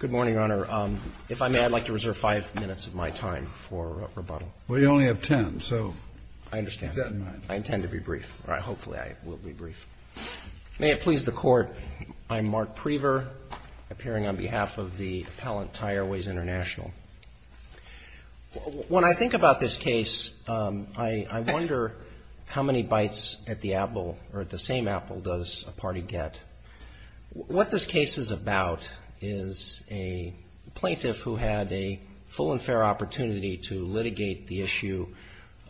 Good morning, Your Honor. If I may, I'd like to reserve five minutes of my time for rebuttal. Well, you only have ten, so keep that in mind. I understand. I intend to be brief. Hopefully, I will be brief. May it please the Court, I'm Mark Prever, appearing on behalf of the appellant Thai Airways International. When I think about this case, I wonder how many bites at the apple, or at the same apple, does a party get? What this case is about is a plaintiff who had a full and fair opportunity to litigate the issue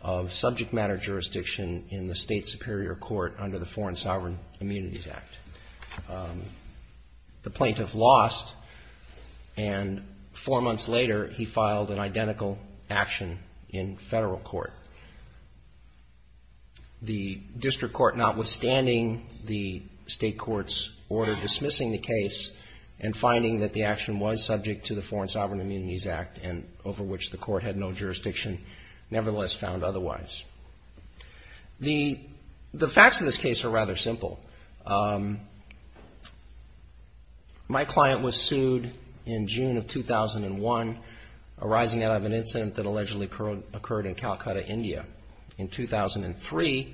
of subject matter jurisdiction in the state superior court under the Foreign Sovereign Immunities Act. The plaintiff lost, and four months later, he filed an identical action in federal court. The district court, notwithstanding the state court's order dismissing the case and finding that the action was subject to the Foreign Sovereign Immunities Act and over which the court had no jurisdiction, nevertheless found otherwise. The facts of this case are rather simple. My client was sued in June of 2001, arising out of an incident that allegedly occurred in Calcutta, India. In 2003,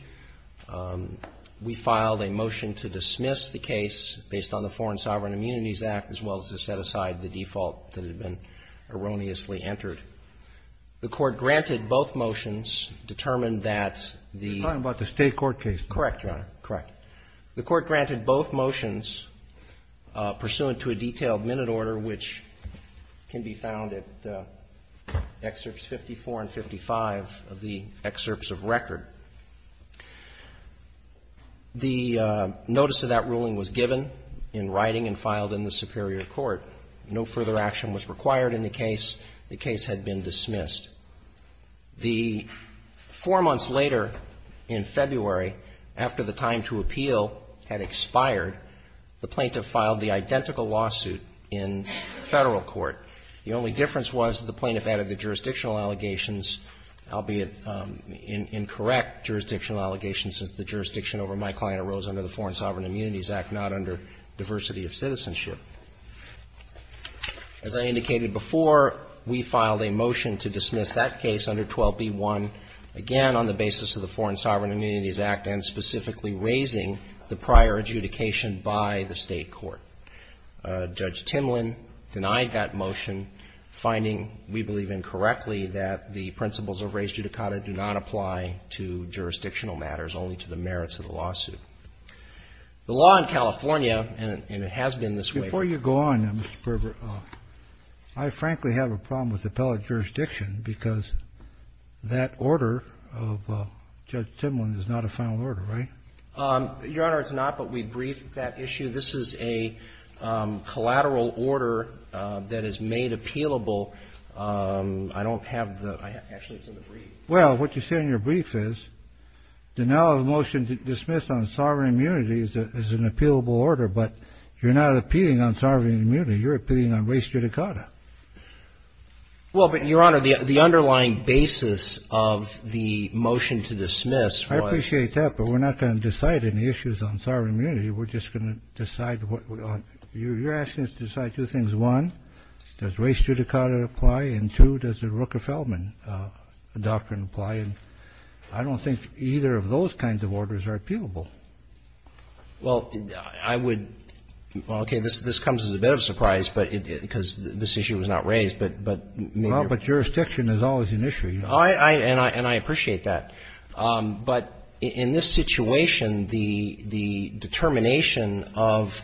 we filed a motion to dismiss the case based on the Foreign Sovereign Immunities Act, as well as to set aside the default that had been erroneously entered. The Court granted both motions, determined that the ---- You're talking about the state court case? Correct, Your Honor. Correct. The Court granted both motions pursuant to a detailed minute order, which can be found at excerpts 54 and 55 of the excerpts of record. The notice of that ruling was given in writing and filed in the superior court. No further action was required in the case. The case had been dismissed. The ---- Four months later, in February, after the time to appeal had expired, the plaintiff filed the identical lawsuit in Federal court. The only difference was the plaintiff added the jurisdictional allegations, albeit incorrect jurisdictional allegations, since the jurisdiction over my client arose under the Foreign Sovereign Immunities Act, not under diversity of citizenship. As I indicated before, we filed a motion to dismiss that case under 12b-1, again on the basis of the Foreign Sovereign Immunities Act, and specifically raising the prior adjudication by the state court. Judge Timlin denied that motion, finding, we believe incorrectly, that the principles of res judicata do not apply to jurisdictional matters, only to the merits of the lawsuit. The law in California, and it has been this way ---- Before you go on, Mr. Perver, I frankly have a problem with appellate jurisdiction because that order of Judge Timlin is not a final order, right? Your Honor, it's not, but we briefed that issue. This is a collateral order that is made appealable. I don't have the ---- actually, it's in the brief. The brief is, the now motion to dismiss on sovereign immunity is an appealable order, but you're not appealing on sovereign immunity. You're appealing on res judicata. Well, but, Your Honor, the underlying basis of the motion to dismiss was ---- I appreciate that, but we're not going to decide any issues on sovereign immunity. We're just going to decide what we want. You're asking us to decide two things. One, does res judicata apply? And two, does the Rooker-Feldman doctrine apply? And I don't think either of those kinds of orders are appealable. Well, I would ---- well, okay, this comes as a bit of a surprise because this issue was not raised, but ---- Well, but jurisdiction is always an issue. I ---- and I appreciate that. But in this situation, the determination of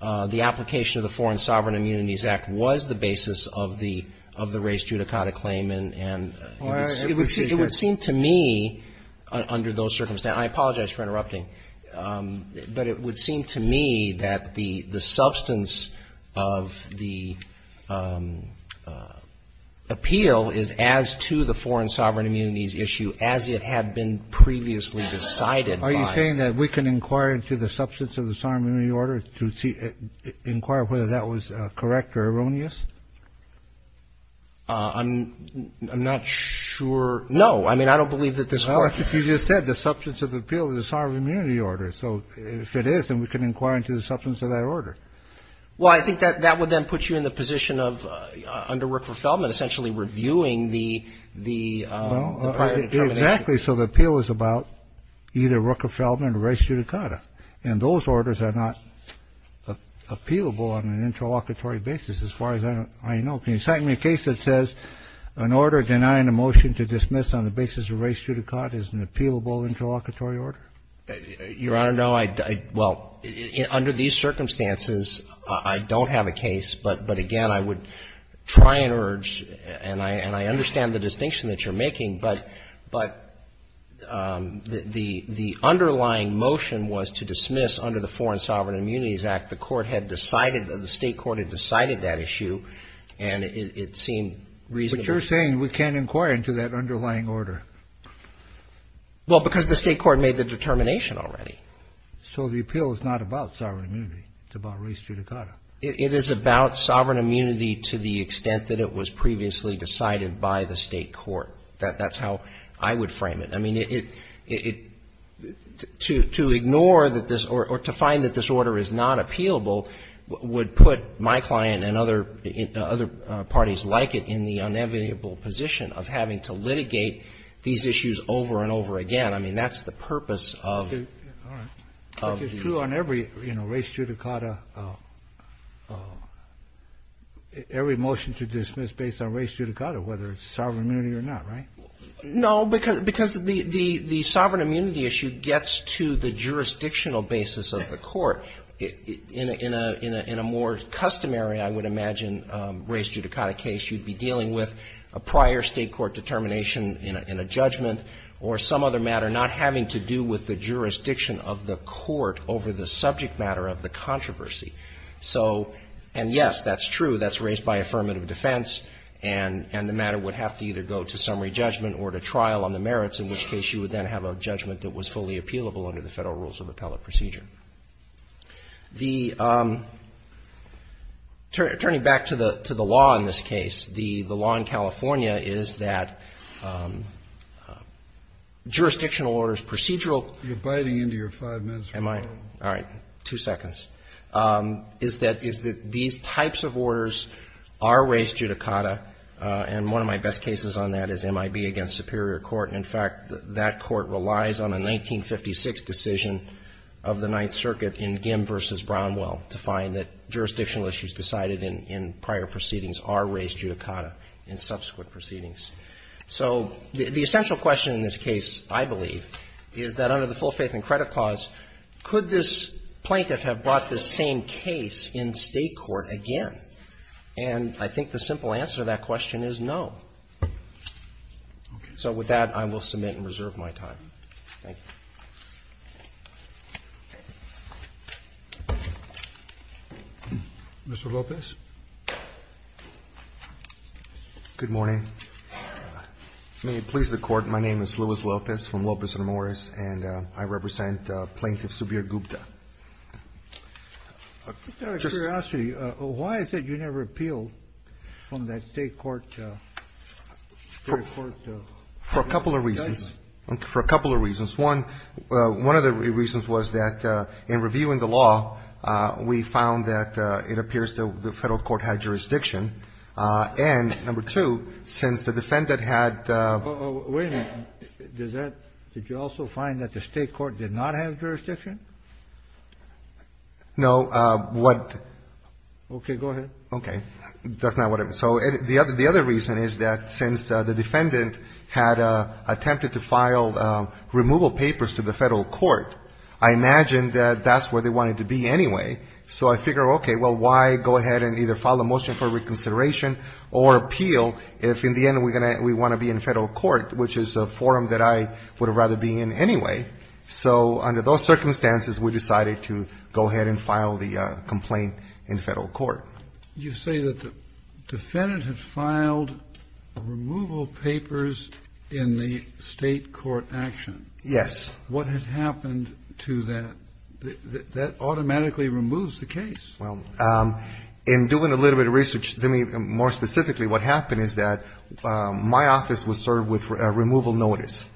the application of the Foreign Sovereign Immunities Act was the basis of the res judicata claim and ---- Well, it would seem to me under those circumstances ---- I apologize for interrupting. But it would seem to me that the substance of the appeal is as to the foreign sovereign immunities issue as it had been previously decided by ---- Are you saying that we can inquire into the substance of the sovereign immunity order to see ---- inquire whether that was correct or erroneous? I'm not sure. No. I mean, I don't believe that this ---- Well, you just said the substance of the appeal is the sovereign immunity order. So if it is, then we can inquire into the substance of that order. Well, I think that would then put you in the position of under Rooker-Feldman essentially reviewing the prior determination. Exactly. So the appeal is about either Rooker-Feldman or res judicata. And those orders are not appealable on an interlocutory basis as far as I know. Can you cite me a case that says an order denying a motion to dismiss on the basis of res judicata is an appealable interlocutory order? Your Honor, no. Well, under these circumstances, I don't have a case. But again, I would try and urge, and I understand the distinction that you're making, but the underlying motion was to dismiss under the Foreign Sovereign Immunities Act. The Court had decided, the State Court had decided that issue, and it seemed reasonable. But you're saying we can't inquire into that underlying order. Well, because the State Court made the determination already. So the appeal is not about sovereign immunity. It's about res judicata. It is about sovereign immunity to the extent that it was previously decided by the State Court. That's how I would frame it. I mean, it to ignore that this or to find that this order is not appealable would put my client and other parties like it in the inevitable position of having to litigate these issues over and over again. I mean, that's the purpose of the Court. But it's true on every, you know, res judicata, every motion to dismiss based on res judicata, whether it's sovereign immunity or not, right? No, because the sovereign immunity issue gets to the jurisdictional basis of the Court. In a more customary, I would imagine, res judicata case, you'd be dealing with a prior State Court determination in a judgment or some other matter not having to do with the jurisdiction of the Court over the subject matter of the controversy. And, yes, that's true. That's raised by affirmative defense. And the matter would have to either go to summary judgment or to trial on the merits, in which case you would then have a judgment that was fully appealable under the Federal Rules of Appellate Procedure. The – turning back to the law in this case, the law in California is that jurisdictional orders procedural – You're biting into your five minutes. Am I? All right. Two seconds. Is that – is that these types of orders are res judicata, and one of my best cases on that is MIB against Superior Court. In fact, that court relies on a 1956 decision of the Ninth Circuit in Gimm v. Brownwell to find that jurisdictional issues decided in prior proceedings are res judicata in subsequent proceedings. So the essential question in this case, I believe, is that under the full faith and And I think the simple answer to that question is no. Okay. So with that, I will submit and reserve my time. Thank you. Mr. Lopez. Good morning. May it please the Court, my name is Luis Lopez from Lopez and Morris, and I represent Plaintiff Subir Gupta. I have a curiosity. Why is it you never appealed from that State court, Superior Court? For a couple of reasons. For a couple of reasons. One, one of the reasons was that in reviewing the law, we found that it appears that the Federal court had jurisdiction, and number two, since the defendant had the – Wait a minute. Did you also find that the State court did not have jurisdiction? No. What? Okay. Go ahead. Okay. That's not what I meant. So the other reason is that since the defendant had attempted to file removal papers to the Federal court, I imagine that that's where they wanted to be anyway. So I figure, okay, well, why go ahead and either file a motion for reconsideration or appeal if in the end we want to be in Federal court, which is a forum that I would have rather be in anyway. So under those circumstances, we decided to go ahead and file the complaint in Federal court. You say that the defendant had filed removal papers in the State court action. Yes. What had happened to that? That automatically removes the case. Well, in doing a little bit of research, more specifically, what happened is that my office was served with a removal notice.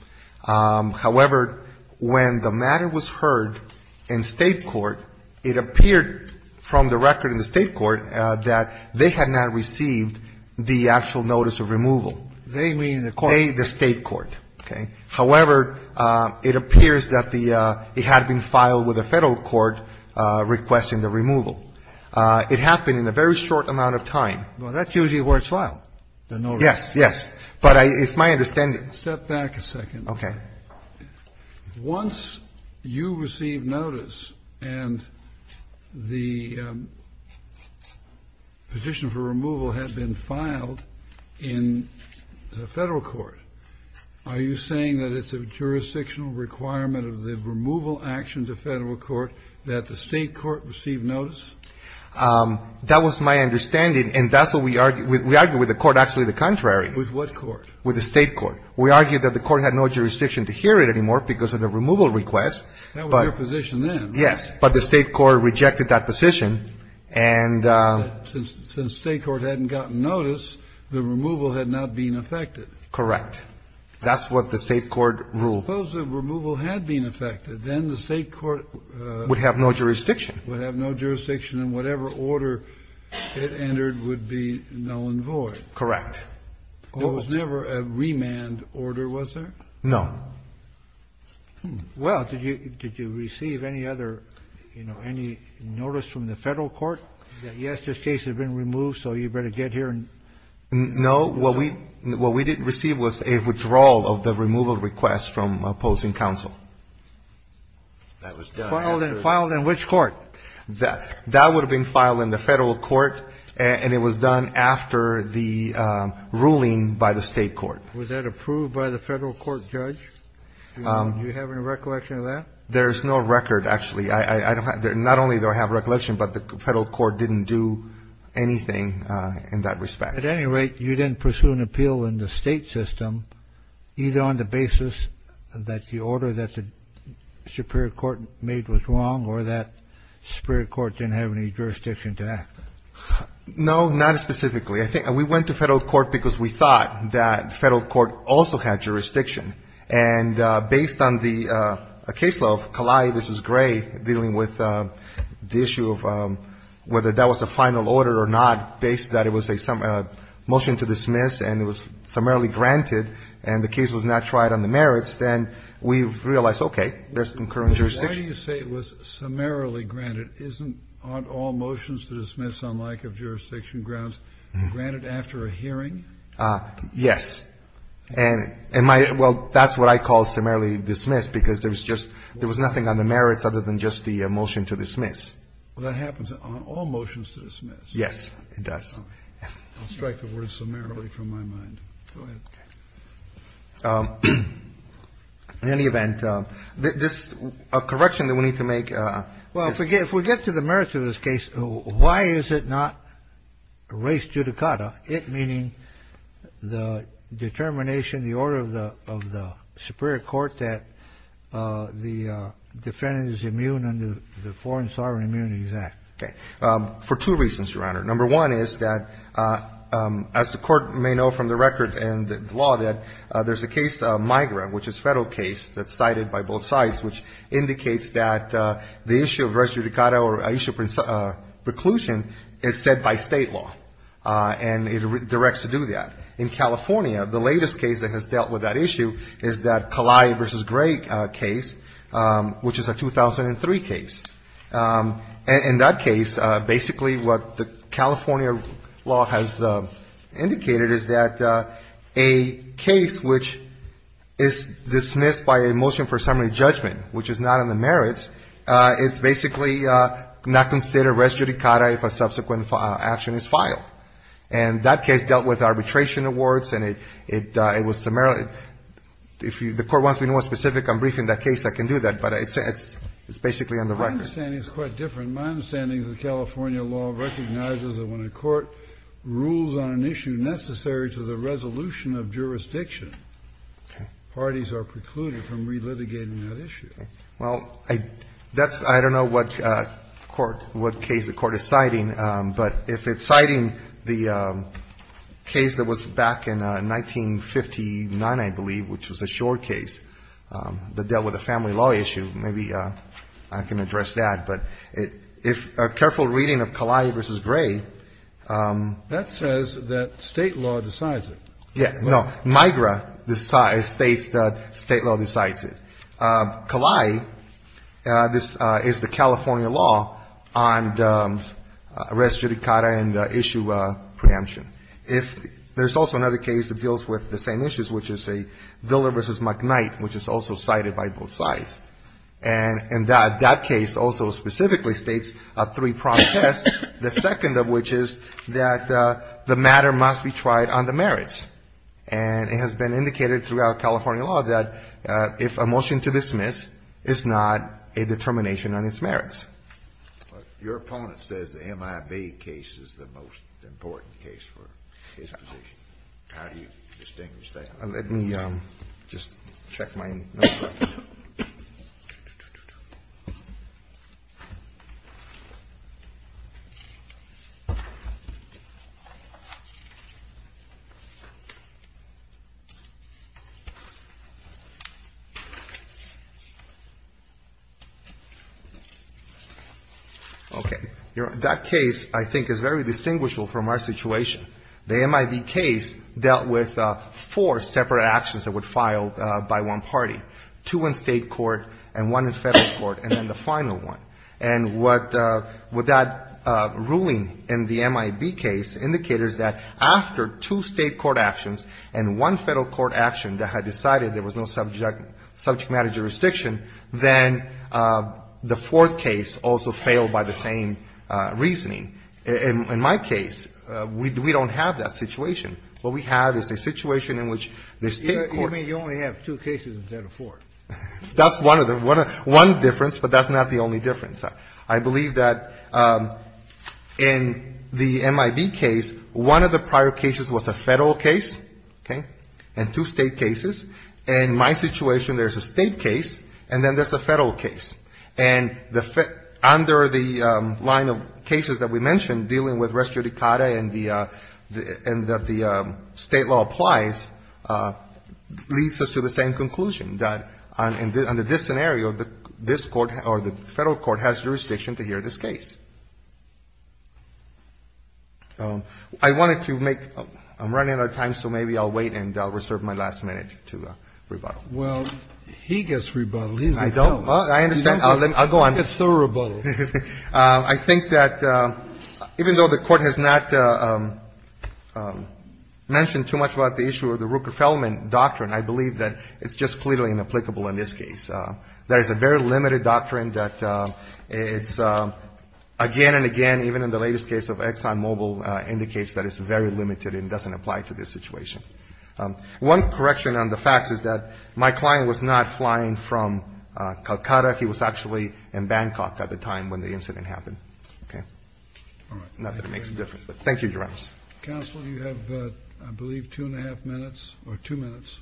However, when the matter was heard in State court, it appeared from the record in the State court that they had not received the actual notice of removal. They, meaning the court? They, the State court. Okay. Well, that's usually where it's filed, the notice. Yes. Yes. But it's my understanding. Step back a second. Okay. Once you receive notice and the petition for removal had been filed in the Federal court, are you saying that it's a jurisdictional requirement of the removal action to Federal court that the State court receive notice? That was my understanding. And that's what we argue. We argue with the court actually the contrary. With what court? With the State court. We argue that the court had no jurisdiction to hear it anymore because of the removal request. That was your position then. Yes. But the State court rejected that position. And since State court hadn't gotten notice, the removal had not been affected. Correct. That's what the State court ruled. But suppose the removal had been affected. Then the State court would have no jurisdiction. Would have no jurisdiction. And whatever order it entered would be null and void. Correct. There was never a remand order, was there? No. Well, did you receive any other, you know, any notice from the Federal court that, yes, this case has been removed, so you better get here and? No. What we didn't receive was a withdrawal of the removal request from opposing counsel. That was done after? Filed in which court? That would have been filed in the Federal court, and it was done after the ruling by the State court. Was that approved by the Federal court judge? Do you have any recollection of that? There's no record, actually. I don't have that. Not only do I have recollection, but the Federal court didn't do anything in that respect. At any rate, you didn't pursue an appeal in the State system either on the basis that the order that the Superior court made was wrong or that Superior court didn't have any jurisdiction to act? No, not specifically. We went to Federal court because we thought that Federal court also had jurisdiction. And based on the case law of Kalei v. Gray dealing with the issue of whether that was a final order or not, based that it was a motion to dismiss and it was summarily granted and the case was not tried on the merits, then we realized, okay, there's concurrent jurisdiction. Why do you say it was summarily granted? Isn't all motions to dismiss on lack of jurisdiction grounds granted after a hearing? Yes. And my — well, that's what I call summarily dismissed because there was just — there was nothing on the merits other than just the motion to dismiss. Well, that happens on all motions to dismiss. Yes, it does. I'll strike the word summarily from my mind. Go ahead. In any event, this — a correction that we need to make. Well, if we get to the merits of this case, why is it not race judicata, it meaning the determination, the order of the — of the superior court that the defendant is immune under the Foreign Sovereign Immunities Act? Okay. For two reasons, Your Honor. Number one is that, as the Court may know from the record and the law, that there's a case, MIGRA, which is a Federal case that's cited by both sides, which indicates that the issue of race judicata or issue of preclusion is set by State law, and it directs to do that. In California, the latest case that has dealt with that issue is that Kalai v. Gray case, which is a 2003 case. In that case, basically what the California law has indicated is that a case which is dismissed by a motion for summary judgment, which is not in the merits, it's basically not considered race judicata if a subsequent action is filed. And that case dealt with arbitration awards, and it was — if the Court wants to be more specific, I'm briefing that case. I can do that. But it's basically on the record. My understanding is quite different. If it's necessary to the resolution of jurisdiction, parties are precluded from relitigating that issue. Roberts. Well, that's — I don't know what court — what case the Court is citing, but if it's citing the case that was back in 1959, I believe, which was a short case that dealt with a family law issue, maybe I can address that. But if a careful reading of Kalai v. Gray — State law decides it. Yeah. No. MIGRA states that State law decides it. Kalai, this is the California law on race judicata and issue preemption. If — there's also another case that deals with the same issues, which is a Villa v. McKnight, which is also cited by both sides. And that case also specifically states three-pronged tests, the second of which is that the matter must be tried on the merits. And it has been indicated throughout California law that if a motion to dismiss is not a determination on its merits. Your opponent says the MIB case is the most important case for his position. How do you distinguish that? Let me just check my notes. Okay. That case, I think, is very distinguishable from our situation. The MIB case dealt with four separate actions that were filed by one party. Two in State court and one in Federal court, and then the final one. And what — what that ruling in the MIB case indicates is that after two State court actions and one Federal court action that had decided there was no subject matter jurisdiction, then the fourth case also failed by the same reasoning. In my case, we don't have that situation. What we have is a situation in which the State court — That's one of them. One difference, but that's not the only difference. I believe that in the MIB case, one of the prior cases was a Federal case, okay, and two State cases. In my situation, there's a State case, and then there's a Federal case. And the — under the line of cases that we mentioned, dealing with res judicata and that the State law applies, leads us to the same conclusion, that under this scenario, this Court or the Federal court has jurisdiction to hear this case. I wanted to make — I'm running out of time, so maybe I'll wait and I'll reserve my last minute to rebuttal. Well, he gets rebuttal. I don't. I understand. I'll go on. He gets no rebuttal. I think that even though the Court has not mentioned too much about the issue of the Ruker-Fellman doctrine, I believe that it's just clearly inapplicable in this case. There is a very limited doctrine that it's — again and again, even in the latest case of ExxonMobil, indicates that it's very limited and doesn't apply to this situation. One correction on the facts is that my client was not flying from Calcutta. He was actually in Bangkok at the time when the incident happened. Okay? All right. Not that it makes a difference. Thank you, Your Honor. Counsel, you have, I believe, two and a half minutes or two minutes.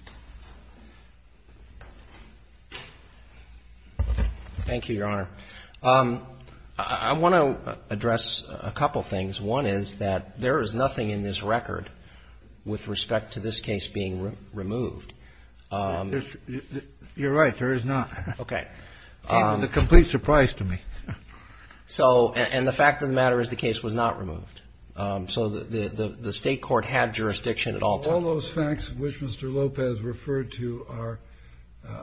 Thank you, Your Honor. I want to address a couple things. One is that there is nothing in this record with respect to this case being removed. You're right. There is not. Okay. It came as a complete surprise to me. So — and the fact of the matter is the case was not removed. So the State court had jurisdiction at all times. All those facts which Mr. Lopez referred to are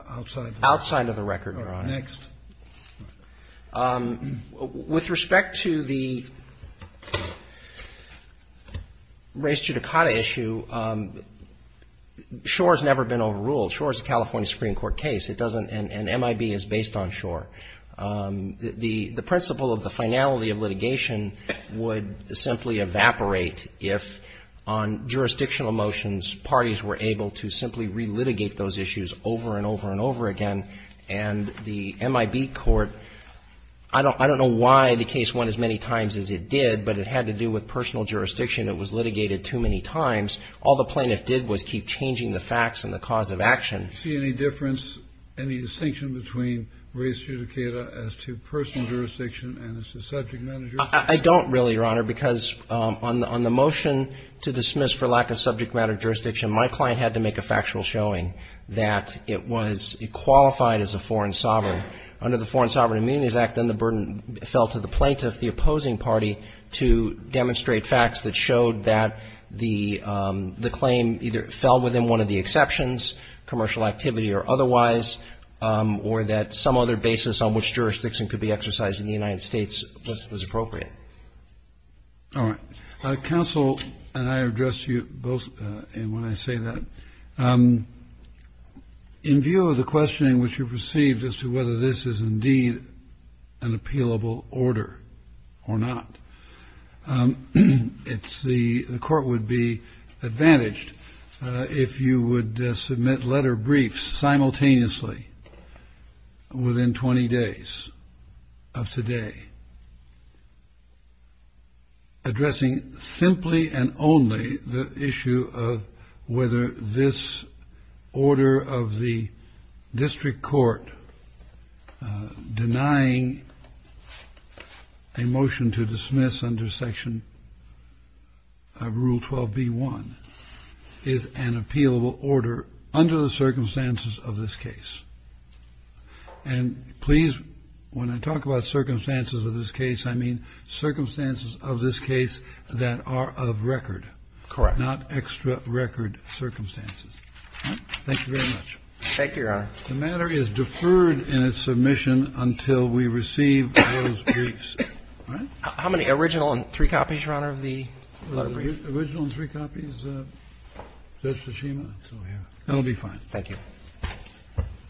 outside the record. Outside of the record, Your Honor. Okay. Next. With respect to the race judicata issue, SURE has never been overruled. SURE is a California Supreme Court case. It doesn't — and MIB is based on SURE. The principle of the finality of litigation would simply evaporate if, on jurisdictional motions, parties were able to simply relitigate those issues over and over and over again. And the MIB court — I don't know why the case won as many times as it did, but it had to do with personal jurisdiction. It was litigated too many times. All the plaintiff did was keep changing the facts and the cause of action. Do you see any difference, any distinction between race judicata as to personal jurisdiction and as to subject matter jurisdiction? I don't really, Your Honor, because on the motion to dismiss for lack of subject matter jurisdiction, my client had to make a factual showing that it was qualified as a foreign sovereign. Under the Foreign Sovereign Immunities Act, then the burden fell to the plaintiff, the opposing party, to demonstrate facts that showed that the claim either fell within one of the exceptions, commercial activity or otherwise, or that some other basis on which jurisdiction could be exercised in the United States was appropriate. All right. Counsel, and I address you both when I say that. In view of the questioning which you've received as to whether this is indeed an appealable order or not, the court would be advantaged if you would submit letter briefs simultaneously within 20 days of today addressing simply and only the issue of whether this order of the district court denying a motion to dismiss under Section Rule 12b-1 is an appealable order under the circumstances of this case. And please, when I talk about circumstances of this case, I mean circumstances of this case that are of record. Correct. Not extra record circumstances. All right. Thank you very much. Thank you, Your Honor. The matter is deferred in its submission until we receive those briefs. All right. How many original and three copies, Your Honor, of the letter briefs? Original and three copies, Judge Tsushima. So, yeah. That will be fine. Thank you.